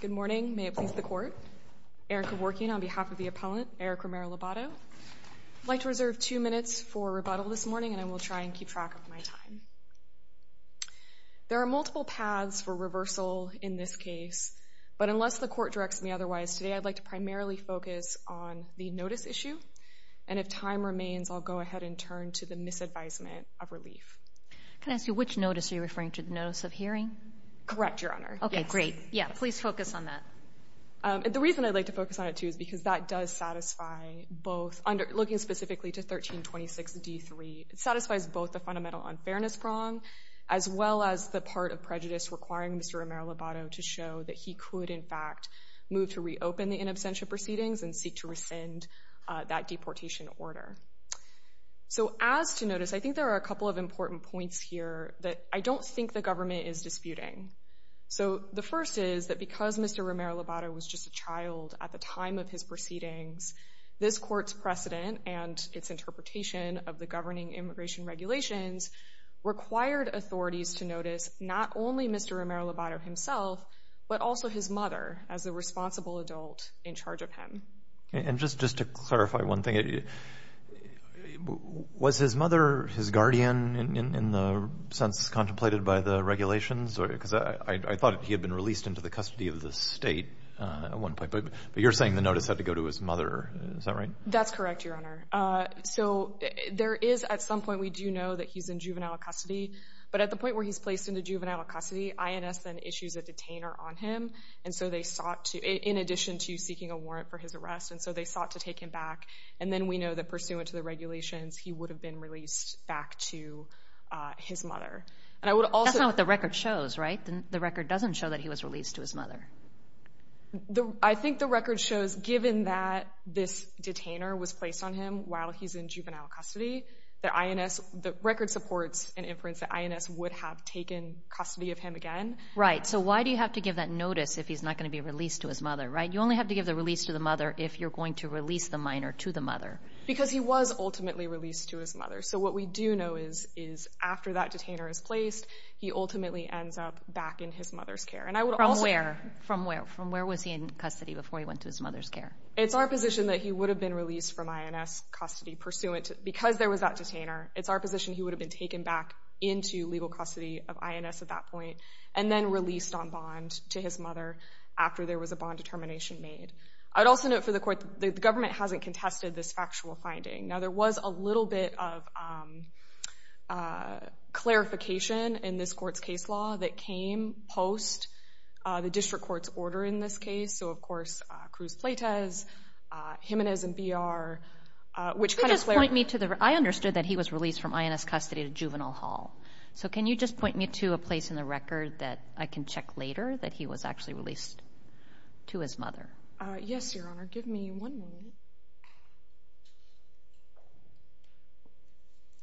Good morning. May it please the court. Erica Vorkian on behalf of the appellant, Eric Romero-Lobato. I'd like to reserve two minutes for rebuttal this morning, and I will try and keep track of my time. There are multiple paths for reversal in this case, but unless the court directs me otherwise, today I'd like to primarily focus on the notice issue, and if time remains, I'll go ahead and turn to the misadvisement of relief. Can I ask you, which notice are you referring to, the notice of hearing? Correct, Your Honor. Yes. Okay, great. Yeah, please focus on that. The reason I'd like to focus on it, too, is because that does satisfy both looking specifically to 1326d3, it satisfies both the fundamental unfairness prong as well as the part of prejudice requiring Mr. Romero-Lobato to show that he could, in fact, move to reopen the in absentia proceedings and seek to rescind that deportation order. As to notice, I think there are a couple of important points here that I don't think the government is disputing. The first is that because Mr. Romero-Lobato was just a child at the time of his proceedings, this court's precedent and its interpretation of the governing immigration regulations required authorities to notice not only Mr. Romero-Lobato himself, but also his mother as the responsible adult in charge of him. And just to clarify one thing, was his mother his guardian in the sense contemplated by the regulations? Because I thought he had been released into the custody of the state at one point, but you're saying the notice had to go to his mother. Is that right? That's correct, Your Honor. So there is at some point we do know that he's in juvenile custody, but at the point where he's placed into juvenile custody, INS then issues a detainer on him, and so they sought to in addition to seeking a warrant for his arrest, and so they sought to take him back. And then we know that pursuant to the regulations, he would have been released back to his mother. That's not what the record shows, right? The record doesn't show that he was released to his mother. I think the record shows, given that this detainer was placed on him while he's in juvenile custody, the record supports an inference that INS would have taken custody of him again. Right, so why do you have to give that notice if he's not going to be released to his mother, right? You only have to give the release to the mother if you're going to release the minor to the mother. Because he was ultimately released to his mother. So what we do know is after that detainer is placed, he ultimately ends up back in his mother's care. From where? From where was he in custody before he went to his mother's care? It's our position that he would have been released from INS custody because there was that detainer. It's our position he would have been taken back into legal custody of INS at that point and then released on bond to his mother after there was a bond determination made. I'd also note for the court, the government hasn't contested this factual finding. Now there was a little bit of clarification in this court's case law that came post the district court's order in this case. So of course, Cruz Pleitez, Jimenez and B.R. I understood that he was released from INS custody to juvenile hall. So can you just point me to a place in the record that I can check later that he was actually released to his mother? Yes, Your Honor. Give me one moment.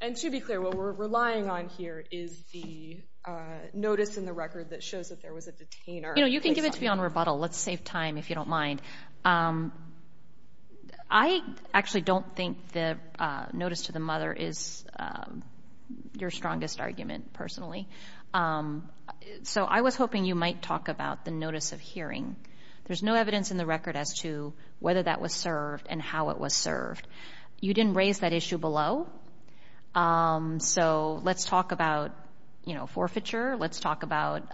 And to be clear, what we're relying on here is the notice in the record that shows that there was a detainer. You know, you can give it to me on rebuttal. Let's save time if you don't mind. I actually don't think the notice to the mother is your strongest argument, personally. So I was hoping you might talk about the notice of hearing. There's no evidence in the record as to whether that was served and how it was served. You didn't raise that issue below. So let's talk about forfeiture. Let's talk about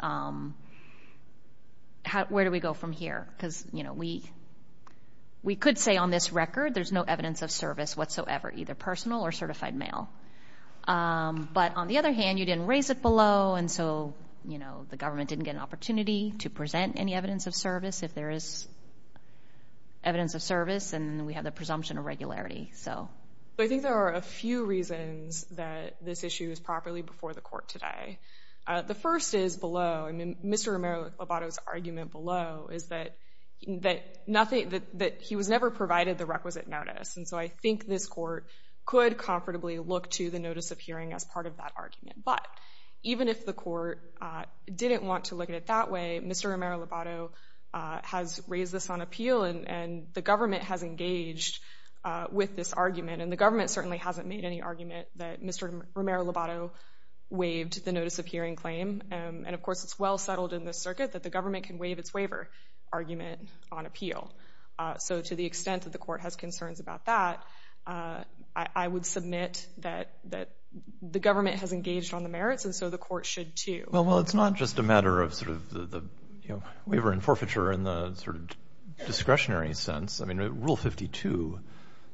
where do we go from here? Because we could say on this record there's no evidence of service whatsoever, either personal or certified mail. But on the other hand, you didn't raise it below, and so the government didn't get an opportunity to present any evidence of service if there is evidence of service, and we have the presumption of regularity. I think there are a few reasons that this issue is properly before the Court today. The first is below. Mr. Romero-Lobato's argument below is that he was never provided the requisite notice, and so I think this Court could comfortably look to the notice of hearing as part of that argument. But even if the Court didn't want to look at it that way, Mr. Romero-Lobato has raised this on appeal, and the government has engaged with this argument, and the government certainly hasn't made any argument that Mr. Romero-Lobato waived the notice of hearing claim. And, of course, it's well settled in this circuit that the government can waive its waiver argument on appeal. So to the extent that the Court has concerns about that, I would submit that the government has engaged on the merits, and so the Court should too. Well, it's not just a matter of the waiver and forfeiture in the discretionary sense. Rule 52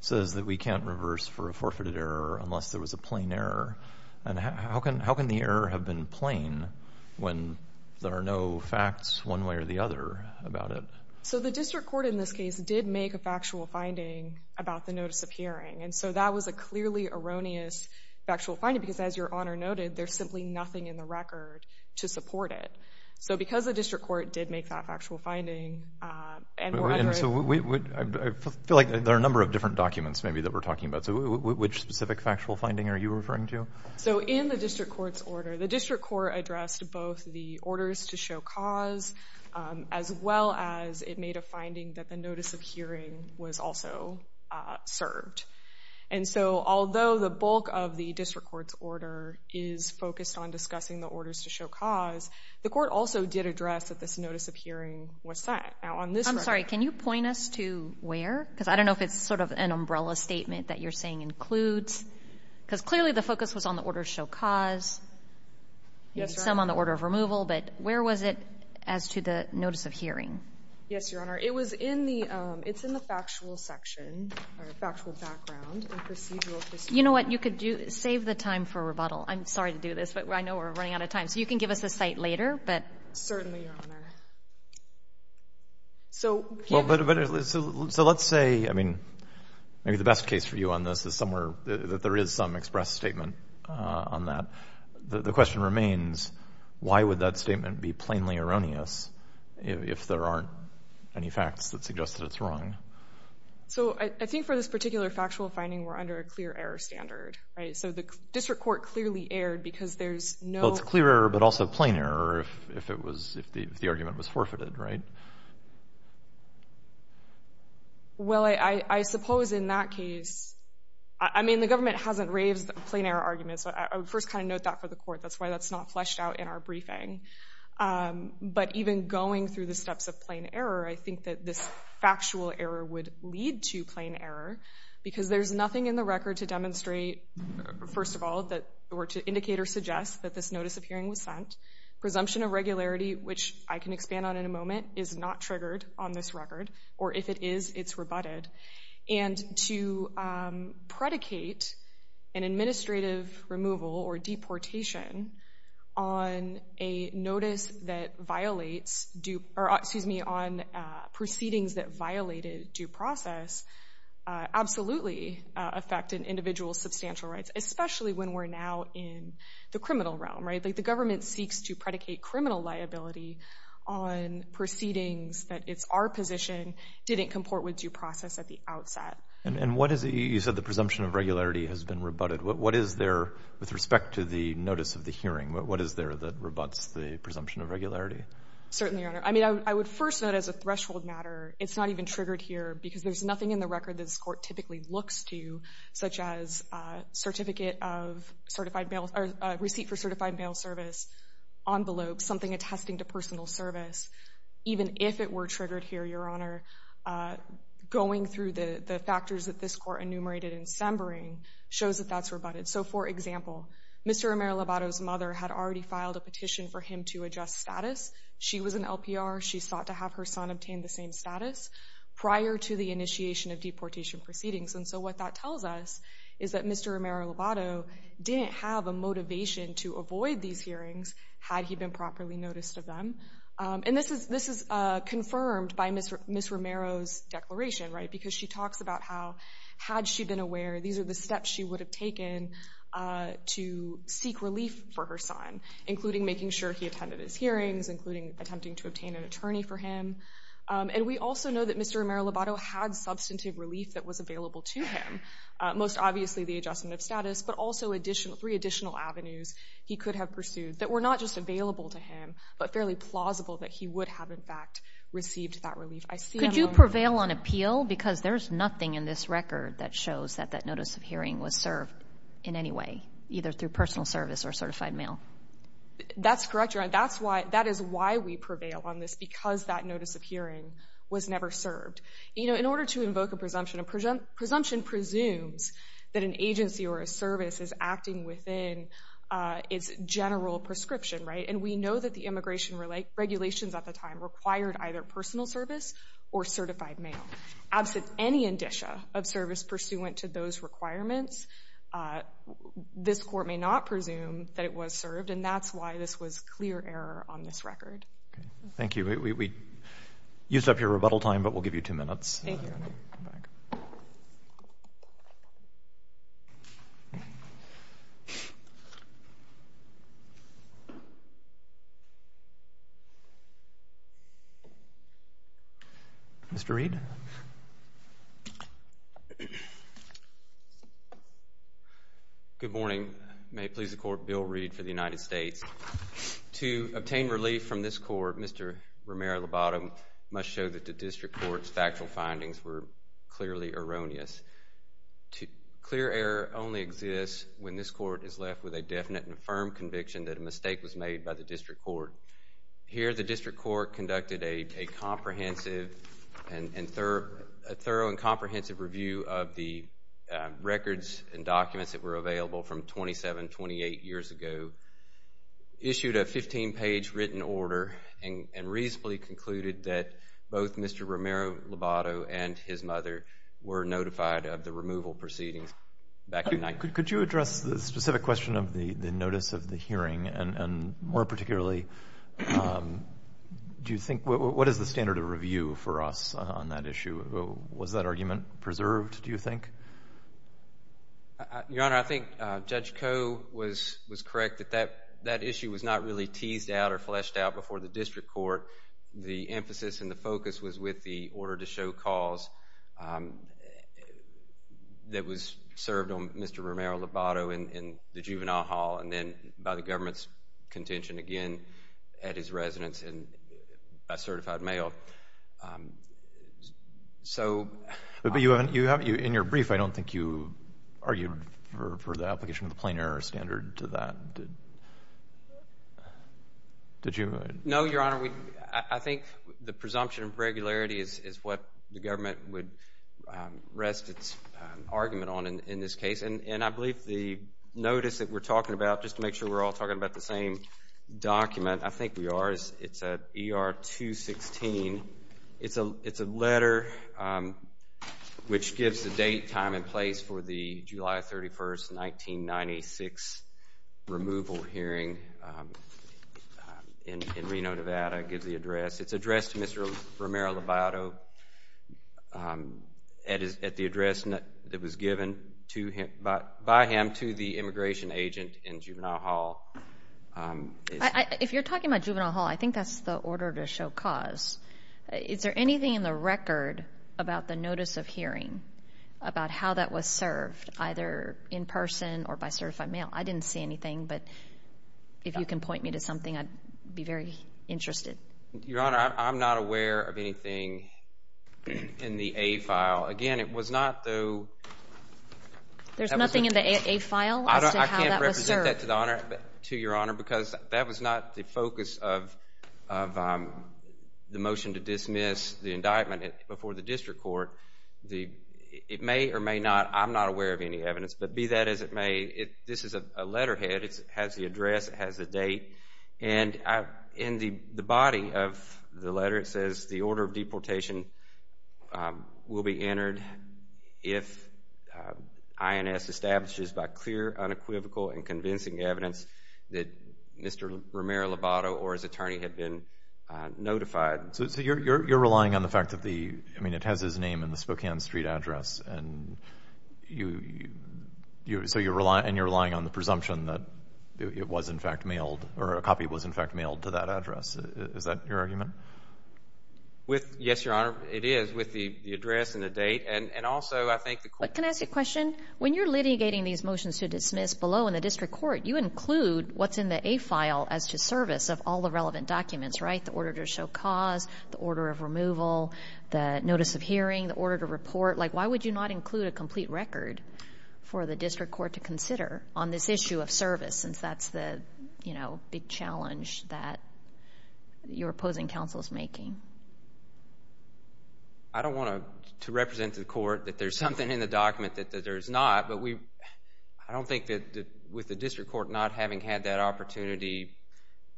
says that we can't reverse for a forfeited error unless there was a plain error, and how can the error have been plain when there are no facts one way or the other about it? So the District Court in this case did make a factual finding about the notice of hearing, and so that was a clearly erroneous factual finding, because as Your Honor noted, there's simply nothing in the record to support it. So because the District Court did make that factual finding, and we're under a... I feel like there are a number of different documents maybe that we're talking about. So which specific factual finding are you referring to? So in the District Court's order, the District Court addressed both the orders to show cause, as well as it made a finding that the notice of hearing was also served. And so although the bulk of the District Court's order is focused on discussing the orders to show cause, the Court also did address that this notice of hearing was sent. Now on this record... I'm sorry, can you point us to where? Because I don't know if it's sort of an umbrella statement that you're saying includes... Because clearly the focus was on the order to show cause, and some on the order of removal, but where was it as to the notice of hearing? Yes, Your Honor. It was in the factual section, or factual background, and procedural history. You know what? You could save the time for rebuttal. I'm sorry to do this, but I know we're running out of time. So you can give us a cite later, but... Certainly, Your Honor. So... So let's say, I mean, maybe the best case for you on this is somewhere that there is some express statement on that. The question remains, why would that statement be plainly erroneous if there aren't any facts that suggest that it's wrong? So I think for this particular factual finding, we're under a clear error standard, right? So the District Court clearly erred because there's no... Well, it's clear error, but also plain error if the argument was forfeited, right? Well, I suppose in that case... I mean, the government hasn't raised plain error arguments, but I would first kind of note that for the Court. That's why that's not fleshed out in our briefing. But even going through the steps of plain error, I think that this factual error would lead to plain error because there's nothing in the record to demonstrate, first of all, or to indicate or suggest that this notice of hearing was sent. Presumption of regularity, which I can expand on in a moment, is not triggered on this record, or if it is, it's rebutted. And to predicate an administrative removal or deportation on a notice that violates due... Excuse me, on proceedings that violated due process absolutely affected individual's substantial rights, especially when we're now in the criminal realm, right? The government seeks to predicate criminal liability on proceedings that it's our position didn't comport with due process at the outset. And what is... You said the presumption of regularity has been rebutted. What is there, with respect to the notice of the hearing, what is there that rebuts the presumption of regularity? Certainly, Your Honor. I mean, I would first note, as a threshold matter, it's not even triggered here because there's nothing in the record that this Court typically looks to, such as a receipt for certified mail service, envelopes, something attesting to personal service. Even if it were triggered here, Your Honor, going through the factors that this Court enumerated in Sembering shows that that's rebutted. So, for example, Mr. Romero-Lobato's mother had already filed a petition for him to adjust status. She was an LPR. She sought to have her son obtain the same status prior to the initiation of deportation proceedings. And so what that tells us is that Mr. Romero-Lobato didn't have a motivation to avoid these hearings had he been properly noticed of them. And this is confirmed by Ms. Romero's declaration, right? Because she talks about how, had she been aware, these are the steps she would have taken to seek relief for her son, including making sure he attended his hearings, including attempting to obtain an attorney for him. And we also know that Mr. Romero-Lobato had substantive relief that was available to him, most obviously the adjustment of status, but also three additional avenues he could have pursued that were not just available to him, but fairly plausible that he would have, in fact, received that relief. Could you prevail on appeal? Because there's nothing in this record that shows that that notice of hearing was served in any way, either through personal service or certified mail. That's correct, Your Honor. That is why we prevail on this, because that notice of hearing was never served. You know, in order to invoke a presumption, a presumption presumes that an agency or a service is acting within its general prescription, right? And we know that the immigration regulations at the time required either personal service or certified mail. Absent any indicia of service pursuant to those requirements, this Court may not presume that it was served, and that's why this was clear error on this record. Thank you. We used up your rebuttal time, but we'll give you two minutes. Thank you. Mr. Reed. Good morning. May it please the Court, Bill Reed for the United States. To obtain relief from this Court, Mr. Romero-Lobato must show that the District Court's factual findings were clearly erroneous. Clear error only exists when this Court is left with a definite and firm conviction that a mistake was made by the District Court. Here, the District Court conducted a comprehensive and thorough and comprehensive review of the records and documents that were available from 27, 28 years ago, issued a 15-page written order, and reasonably concluded that both Mr. Romero-Lobato and his mother were notified of the removal proceedings back in 19... Could you address the specific question of the notice of the hearing, and more particularly, do you think... What is the standard of review for us on that issue? Was that argument preserved, do you think? Your Honor, I think Judge Koh was correct that that issue was not really teased out or fleshed out before the District Court. The emphasis and the focus was with the order to show cause that was served on Mr. Romero-Lobato in the Juvenile Hall, and then by the government's contention again at his residence by certified mail. So... But in your brief, I don't think you argued for the application of the plain error standard to that. Did you? No, Your Honor, I think the presumption of regularity is what the government would rest its argument on in this case, and I believe the notice that we're talking about, just to make sure we're all talking about the same document, I think we are. It's ER-216. It's a letter which gives the date, time, and place for the July 31, 1996 removal hearing in Reno, Nevada. It gives the address. It's addressed to Mr. Romero-Lobato at the address that was given by him to the immigration agent in Juvenile Hall. If you're talking about Juvenile Hall, I think that's the order to show cause. Is there anything in the record about the notice of hearing about how that was served, either in person or by certified mail? I didn't see anything, but if you can point me to something, I'd be very interested. Your Honor, I'm not aware of anything in the A file. Again, it was not through... There's nothing in the A file as to how that was served? To your Honor, because that was not the focus of the motion to dismiss the indictment before the district court. It may or may not, I'm not aware of any evidence, but be that as it may, this is a letterhead. It has the address. It has the date. In the body of the letter, it says, the order of deportation will be entered if INS establishes by clear, unequivocal, and convincing evidence that Mr. Romero-Lobato or his attorney had been notified. So you're relying on the fact that the... I mean, it has his name and the Spokane Street address, and you're relying on the presumption that it was, in fact, mailed, or a copy was, in fact, mailed to that address. Is that your argument? Yes, Your Honor, it is. I agree with the address and the date, and also I think the court... But can I ask you a question? When you're litigating these motions to dismiss below in the district court, you include what's in the A file as to service of all the relevant documents, right? The order to show cause, the order of removal, the notice of hearing, the order to report. Like, why would you not include a complete record for the district court to consider on this issue of service since that's the big challenge that your opposing counsel is making? I don't want to represent to the court that there's something in the document that there's not, but I don't think that with the district court not having had that opportunity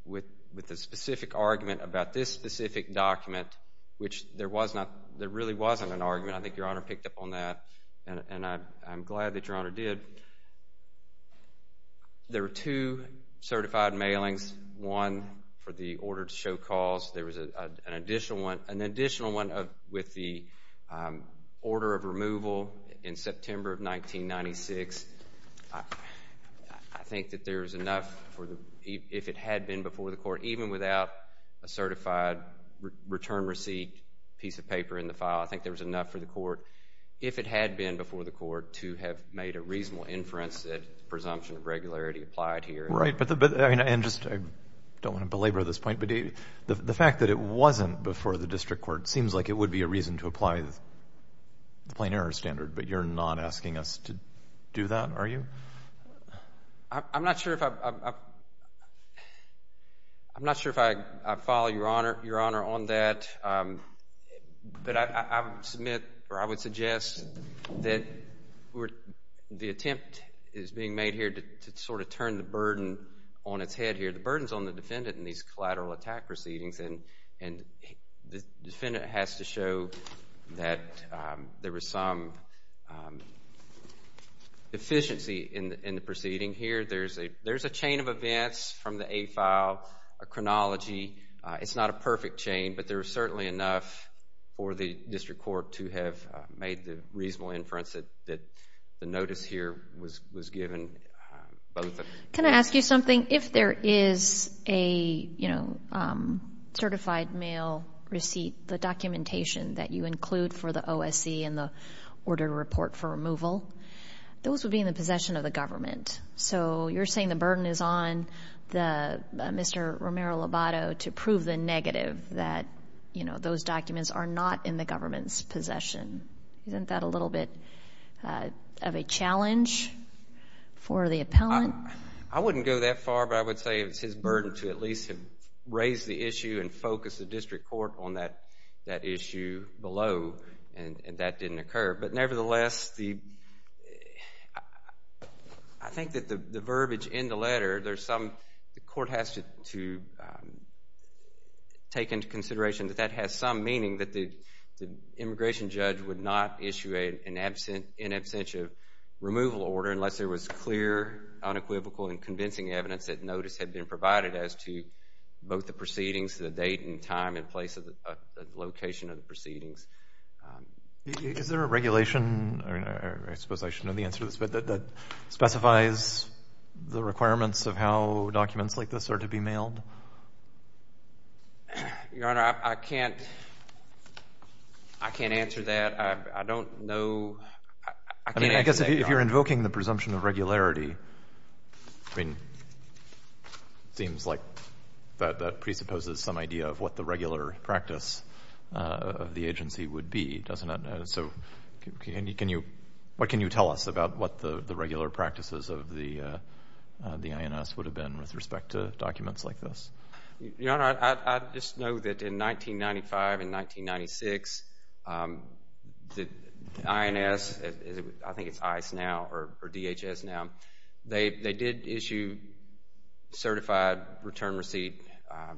with the specific argument about this specific document, which there really wasn't an argument. I think Your Honor picked up on that, and I'm glad that Your Honor did. There are two certified mailings. One for the order to show cause. There was an additional one with the order of removal in September of 1996. I think that there's enough, if it had been before the court, even without a certified return receipt piece of paper in the file, I think there was enough for the court, if it had been before the court, to have made a reasonable inference that the presumption of regularity applied here. Right. And just, I don't want to belabor this point, but the fact that it wasn't before the district court seems like it would be a reason to apply the plain error standard, but you're not asking us to do that, are you? I'm not sure if I follow Your Honor on that, but I would suggest that the attempt is being made here to sort of turn the burden on its head here. The burden's on the defendant in these collateral attack proceedings, and the defendant has to show that there was some deficiency in the proceeding here. There's a chain of events from the A file, a chronology. It's not a perfect chain, but there is certainly enough for the district court to have made the reasonable inference that the notice here was given. Can I ask you something? If there is a certified mail receipt, the documentation that you include for the OSC and the order to report for removal, those would be in the possession of the government. So you're saying the burden is on Mr. Romero-Lobato to prove the negative that those documents are not in the government's possession. Isn't that a little bit of a challenge for the appellant? I wouldn't go that far, but I would say it's his burden to at least raise the issue and focus the district court on that issue below, and that didn't occur. But nevertheless, I think that the verbiage in the letter, the court has to take into consideration that that has some meaning that the immigration judge would not issue an in absentia removal order unless there was clear, unequivocal, and convincing evidence that notice had been provided as to both the proceedings, the date and time and place of the location of the proceedings. Is there a regulation? I suppose I should know the answer to this, but that specifies the requirements of how documents like this are to be mailed? Your Honor, I can't answer that. I don't know. I guess if you're invoking the presumption of regularity, I mean, it seems like that presupposes some idea of what the regular practice of the agency would be, doesn't it? So what can you tell us about what the regular practices of the INS would have been with respect to documents like this? Your Honor, I just know that in 1995 and 1996, the INS, I think it's ICE now or DHS now, they did issue certified return receipt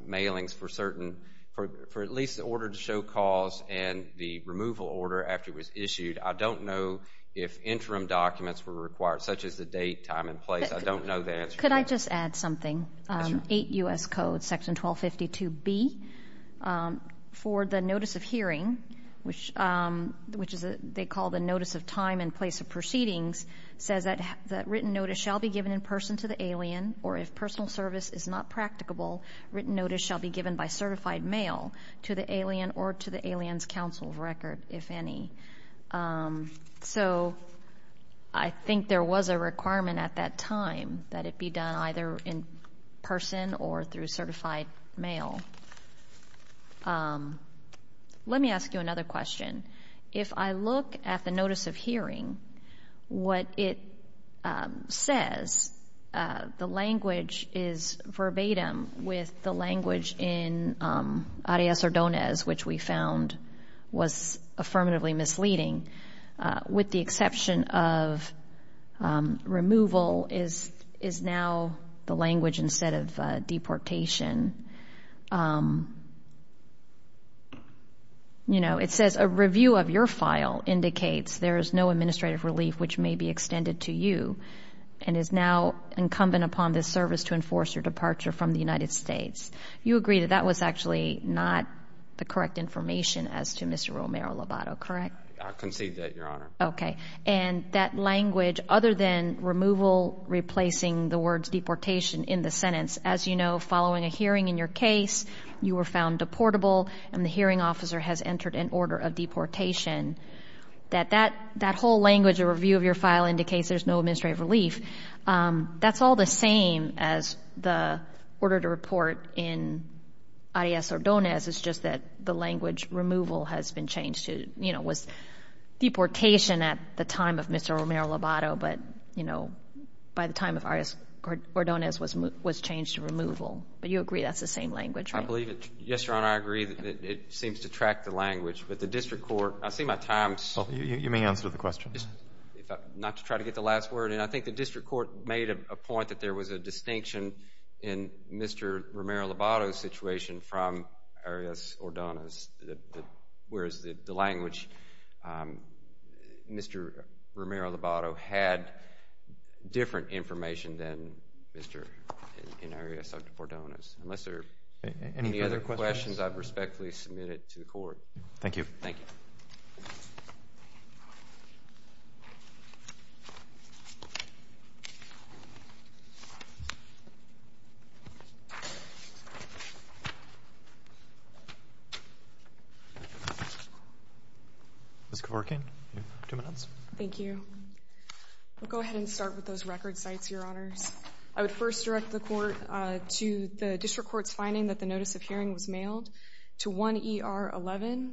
mailings for at least the order to show cause and the removal order after it was issued. I don't know if interim documents were required, such as the date, time, and place. I don't know the answer to that. Could I just add something? Yes, Your Honor. 8 U.S. Code, Section 1252B, for the notice of hearing, which they call the notice of time and place of proceedings, says that written notice shall be given in person to the alien or if personal service is not practicable, written notice shall be given by certified mail to the alien or to the alien's counsel's record, if any. So I think there was a requirement at that time that it be done either in person or through certified mail. Let me ask you another question. If I look at the notice of hearing, what it says, the language is verbatim with the language in Arias Ordonez, which we found was affirmatively misleading, with the exception of removal is now the language instead of deportation. You know, it says, a review of your file indicates there is no administrative relief which may be extended to you and is now incumbent upon this service to enforce your departure from the United States. You agree that that was actually not the correct information as to Mr. Romero-Lobato, correct? I concede that, Your Honor. Okay. And that language, other than removal replacing the words deportation in the sentence, as you know, following a hearing in your case, you were found deportable and the hearing officer has entered an order of deportation, that that whole language, a review of your file indicates there's no administrative relief, that's all the same as the order to report in Arias Ordonez. It's just that the language removal has been changed to, you know, was deportation at the time of Mr. Romero-Lobato, but, you know, by the time of Arias Ordonez was changed to removal. But you agree that's the same language, right? I believe it. Yes, Your Honor, I agree that it seems to track the language, but the district court, I see my time. You may answer the question. Not to try to get the last word in, I think the district court made a point that there was a distinction in Mr. Romero-Lobato's situation from Arias Ordonez, whereas the language Mr. Romero-Lobato had different information than Mr. and Arias Ordonez. Unless there are any other questions, I respectfully submit it to the court. Thank you. Thank you. Ms. Kevorkian, you have two minutes. Thank you. I'll go ahead and start with those record sites, Your Honors. I would first direct the court to the district court's finding that the notice of hearing was mailed to 1ER11.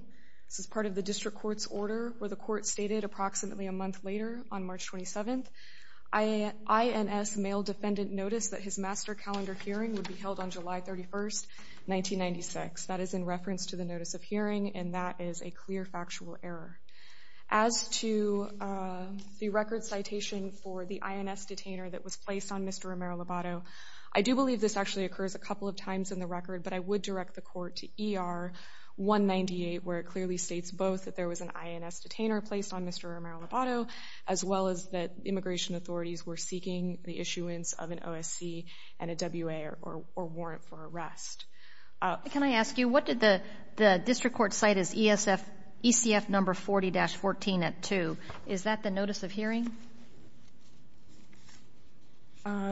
This is part of the district court's order where the court stated approximately a month later, on March 27th, INS mailed defendant notice that his master calendar hearing would be held on July 31st, 1996. That is in reference to the notice of hearing, and that is a clear factual error. As to the record citation for the INS detainer that was placed on Mr. Romero-Lobato, I do believe this actually occurs a couple of times in the record, but I would direct the court to ER198, where it clearly states both that there was an INS detainer placed on Mr. Romero-Lobato, as well as that immigration authorities were seeking the issuance of an OSC and a WA or warrant for arrest. Can I ask you, what did the district court cite as ECF number 40-14 at 2? Is that the notice of hearing?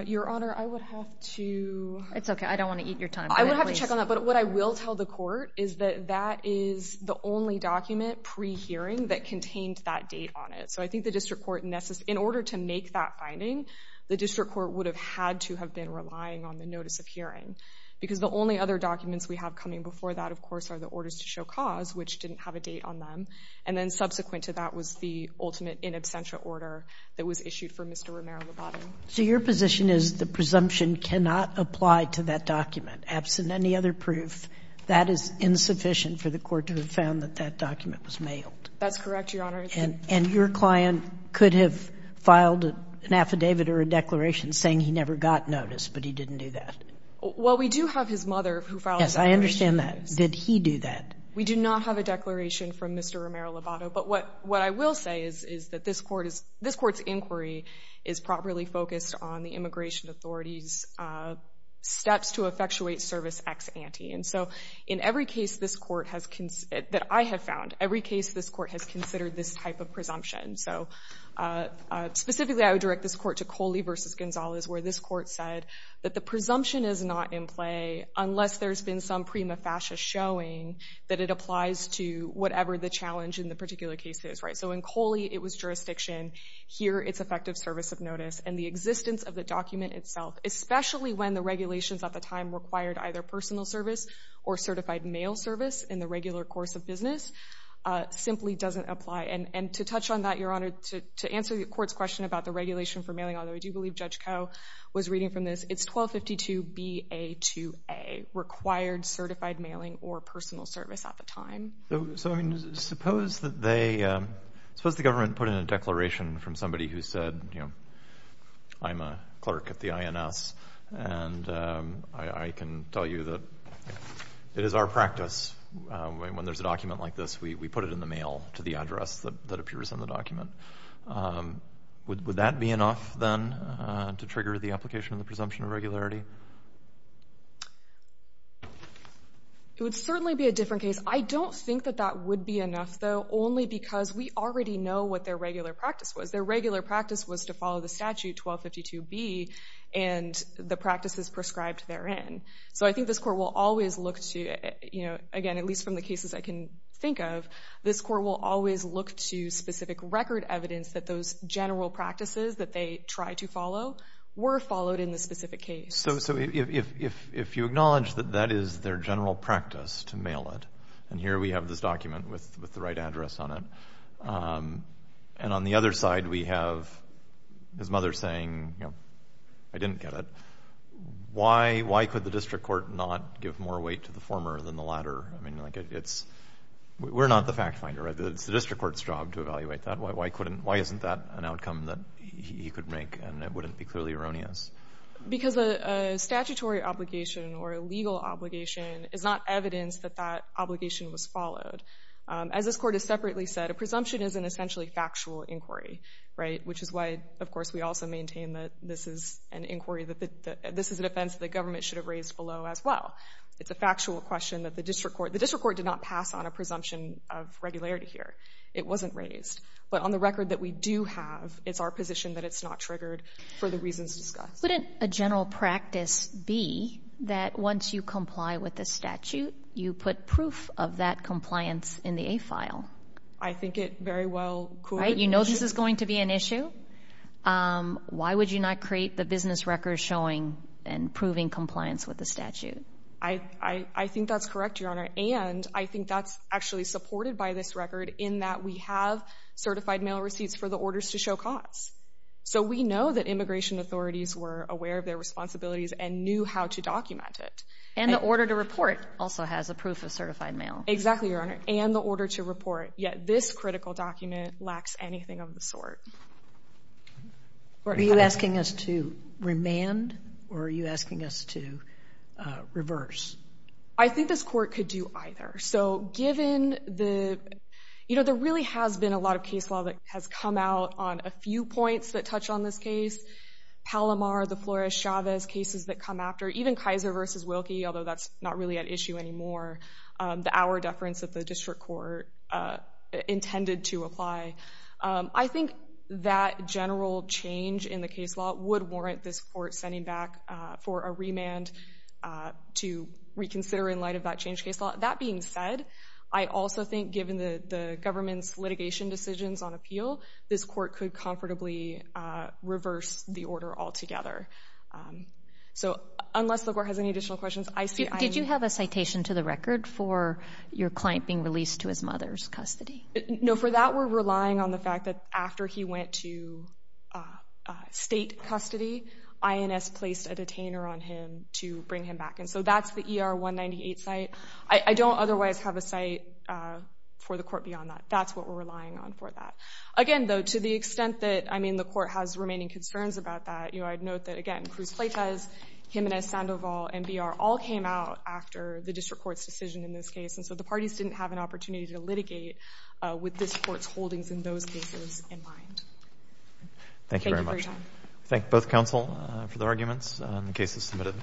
Your Honor, I would have to... It's okay. I don't want to eat your time. I would have to check on that, but what I will tell the court is that that is the only document pre-hearing that contained that date on it. So I think the district court, in order to make that finding, the district court would have had to have been relying on the notice of hearing because the only other documents we have coming before that, of course, are the orders to show cause, which didn't have a date on them, and then subsequent to that was the ultimate in absentia order that was issued for Mr. Romero-Lobato. So your position is the presumption cannot apply to that document? Absent any other proof, that is insufficient for the court to have found that that document was mailed? That's correct, Your Honor. And your client could have filed an affidavit or a declaration saying he never got notice, but he didn't do that? Well, we do have his mother who filed a declaration. Yes, I understand that. Did he do that? We do not have a declaration from Mr. Romero-Lobato, but what I will say is that this court's inquiry is properly focused on the immigration authority's steps to effectuate service ex ante. And so in every case that I have found, every case this court has considered this type of presumption. So specifically, I would direct this court to Coley v. Gonzalez, where this court said that the presumption is not in play unless there's been some prima facie showing that it applies to whatever the challenge in the particular case is. So in Coley, it was jurisdiction. Here, it's effective service of notice. And the existence of the document itself, especially when the regulations at the time required either personal service or certified mail service in the regular course of business, simply doesn't apply. And to touch on that, Your Honor, to answer the court's question about the regulation for mailing, although I do believe Judge Koh was reading from this, it's 1252 B.A. 2A, required certified mailing or personal service at the time. So, I mean, suppose the government put in a declaration from somebody who said, you know, I'm a clerk at the INS, and I can tell you that it is our practice when there's a document like this, we put it in the mail to the address that appears in the document. Would that be enough, then, to trigger the application of the presumption of regularity? It would certainly be a different case. I don't think that that would be enough, though, only because we already know what their regular practice was. Their regular practice was to follow the statute 1252 B and the practices prescribed therein. So I think this court will always look to, you know, again, at least from the cases I can think of, this court will always look to specific record evidence that those general practices that they try to follow were followed in the specific case. So if you acknowledge that that is their general practice to mail it, and here we have this document with the right address on it, and on the other side we have his mother saying, you know, I didn't get it, why could the district court not give more weight to the former than the latter? I mean, like, we're not the fact finder. It's the district court's job to evaluate that. Why isn't that an outcome that he could make and it wouldn't be clearly erroneous? Because a statutory obligation or a legal obligation is not evidence that that obligation was followed. As this court has separately said, a presumption is an essentially factual inquiry, right, which is why, of course, we also maintain that this is an inquiry, this is a defense that the government should have raised below as well. It's a factual question that the district court... The district court did not pass on a presumption of regularity here. It wasn't raised. But on the record that we do have, it's our position that it's not triggered for the reasons discussed. Couldn't a general practice be that once you comply with the statute, you put proof of that compliance in the A file? I think it very well could be an issue. Right, you know this is going to be an issue. Why would you not create the business record for showing and proving compliance with the statute? I think that's correct, Your Honor, and I think that's actually supported by this record in that we have certified mail receipts for the orders to show cause. So we know that immigration authorities were aware of their responsibilities and knew how to document it. And the order to report also has a proof of certified mail. Exactly, Your Honor, and the order to report. Yet this critical document lacks anything of the sort. Are you asking us to remand or are you asking us to reverse? I think this court could do either. So given the, you know, there really has been a lot of case law that has come out on a few points that touch on this case, Palomar, the Flores-Chavez cases that come after, even Kaiser v. Wilkie, although that's not really at issue anymore, the hour deference that the district court intended to apply. I think that general change in the case law would warrant this court sending back for a remand to reconsider in light of that changed case law. That being said, I also think, given the government's litigation decisions on appeal, this court could comfortably reverse the order altogether. So unless the court has any additional questions, I see I am... Did you have a citation to the record for your client being released to his mother's custody? No, for that we're relying on the fact that after he went to state custody, INS placed a detainer on him to bring him back. And so that's the ER-198 site. I don't otherwise have a site for the court beyond that. That's what we're relying on for that. Again, though, to the extent that, I mean, the court has remaining concerns about that, I'd note that, again, Cruz Pleitez, Jimenez-Sandoval, and BR all came out after the district court's decision in this case, and so the parties didn't have an opportunity to litigate with this court's holdings in those cases in mind. Thank you very much. Thank you for your time. Thank both counsel for the arguments and the cases submitted.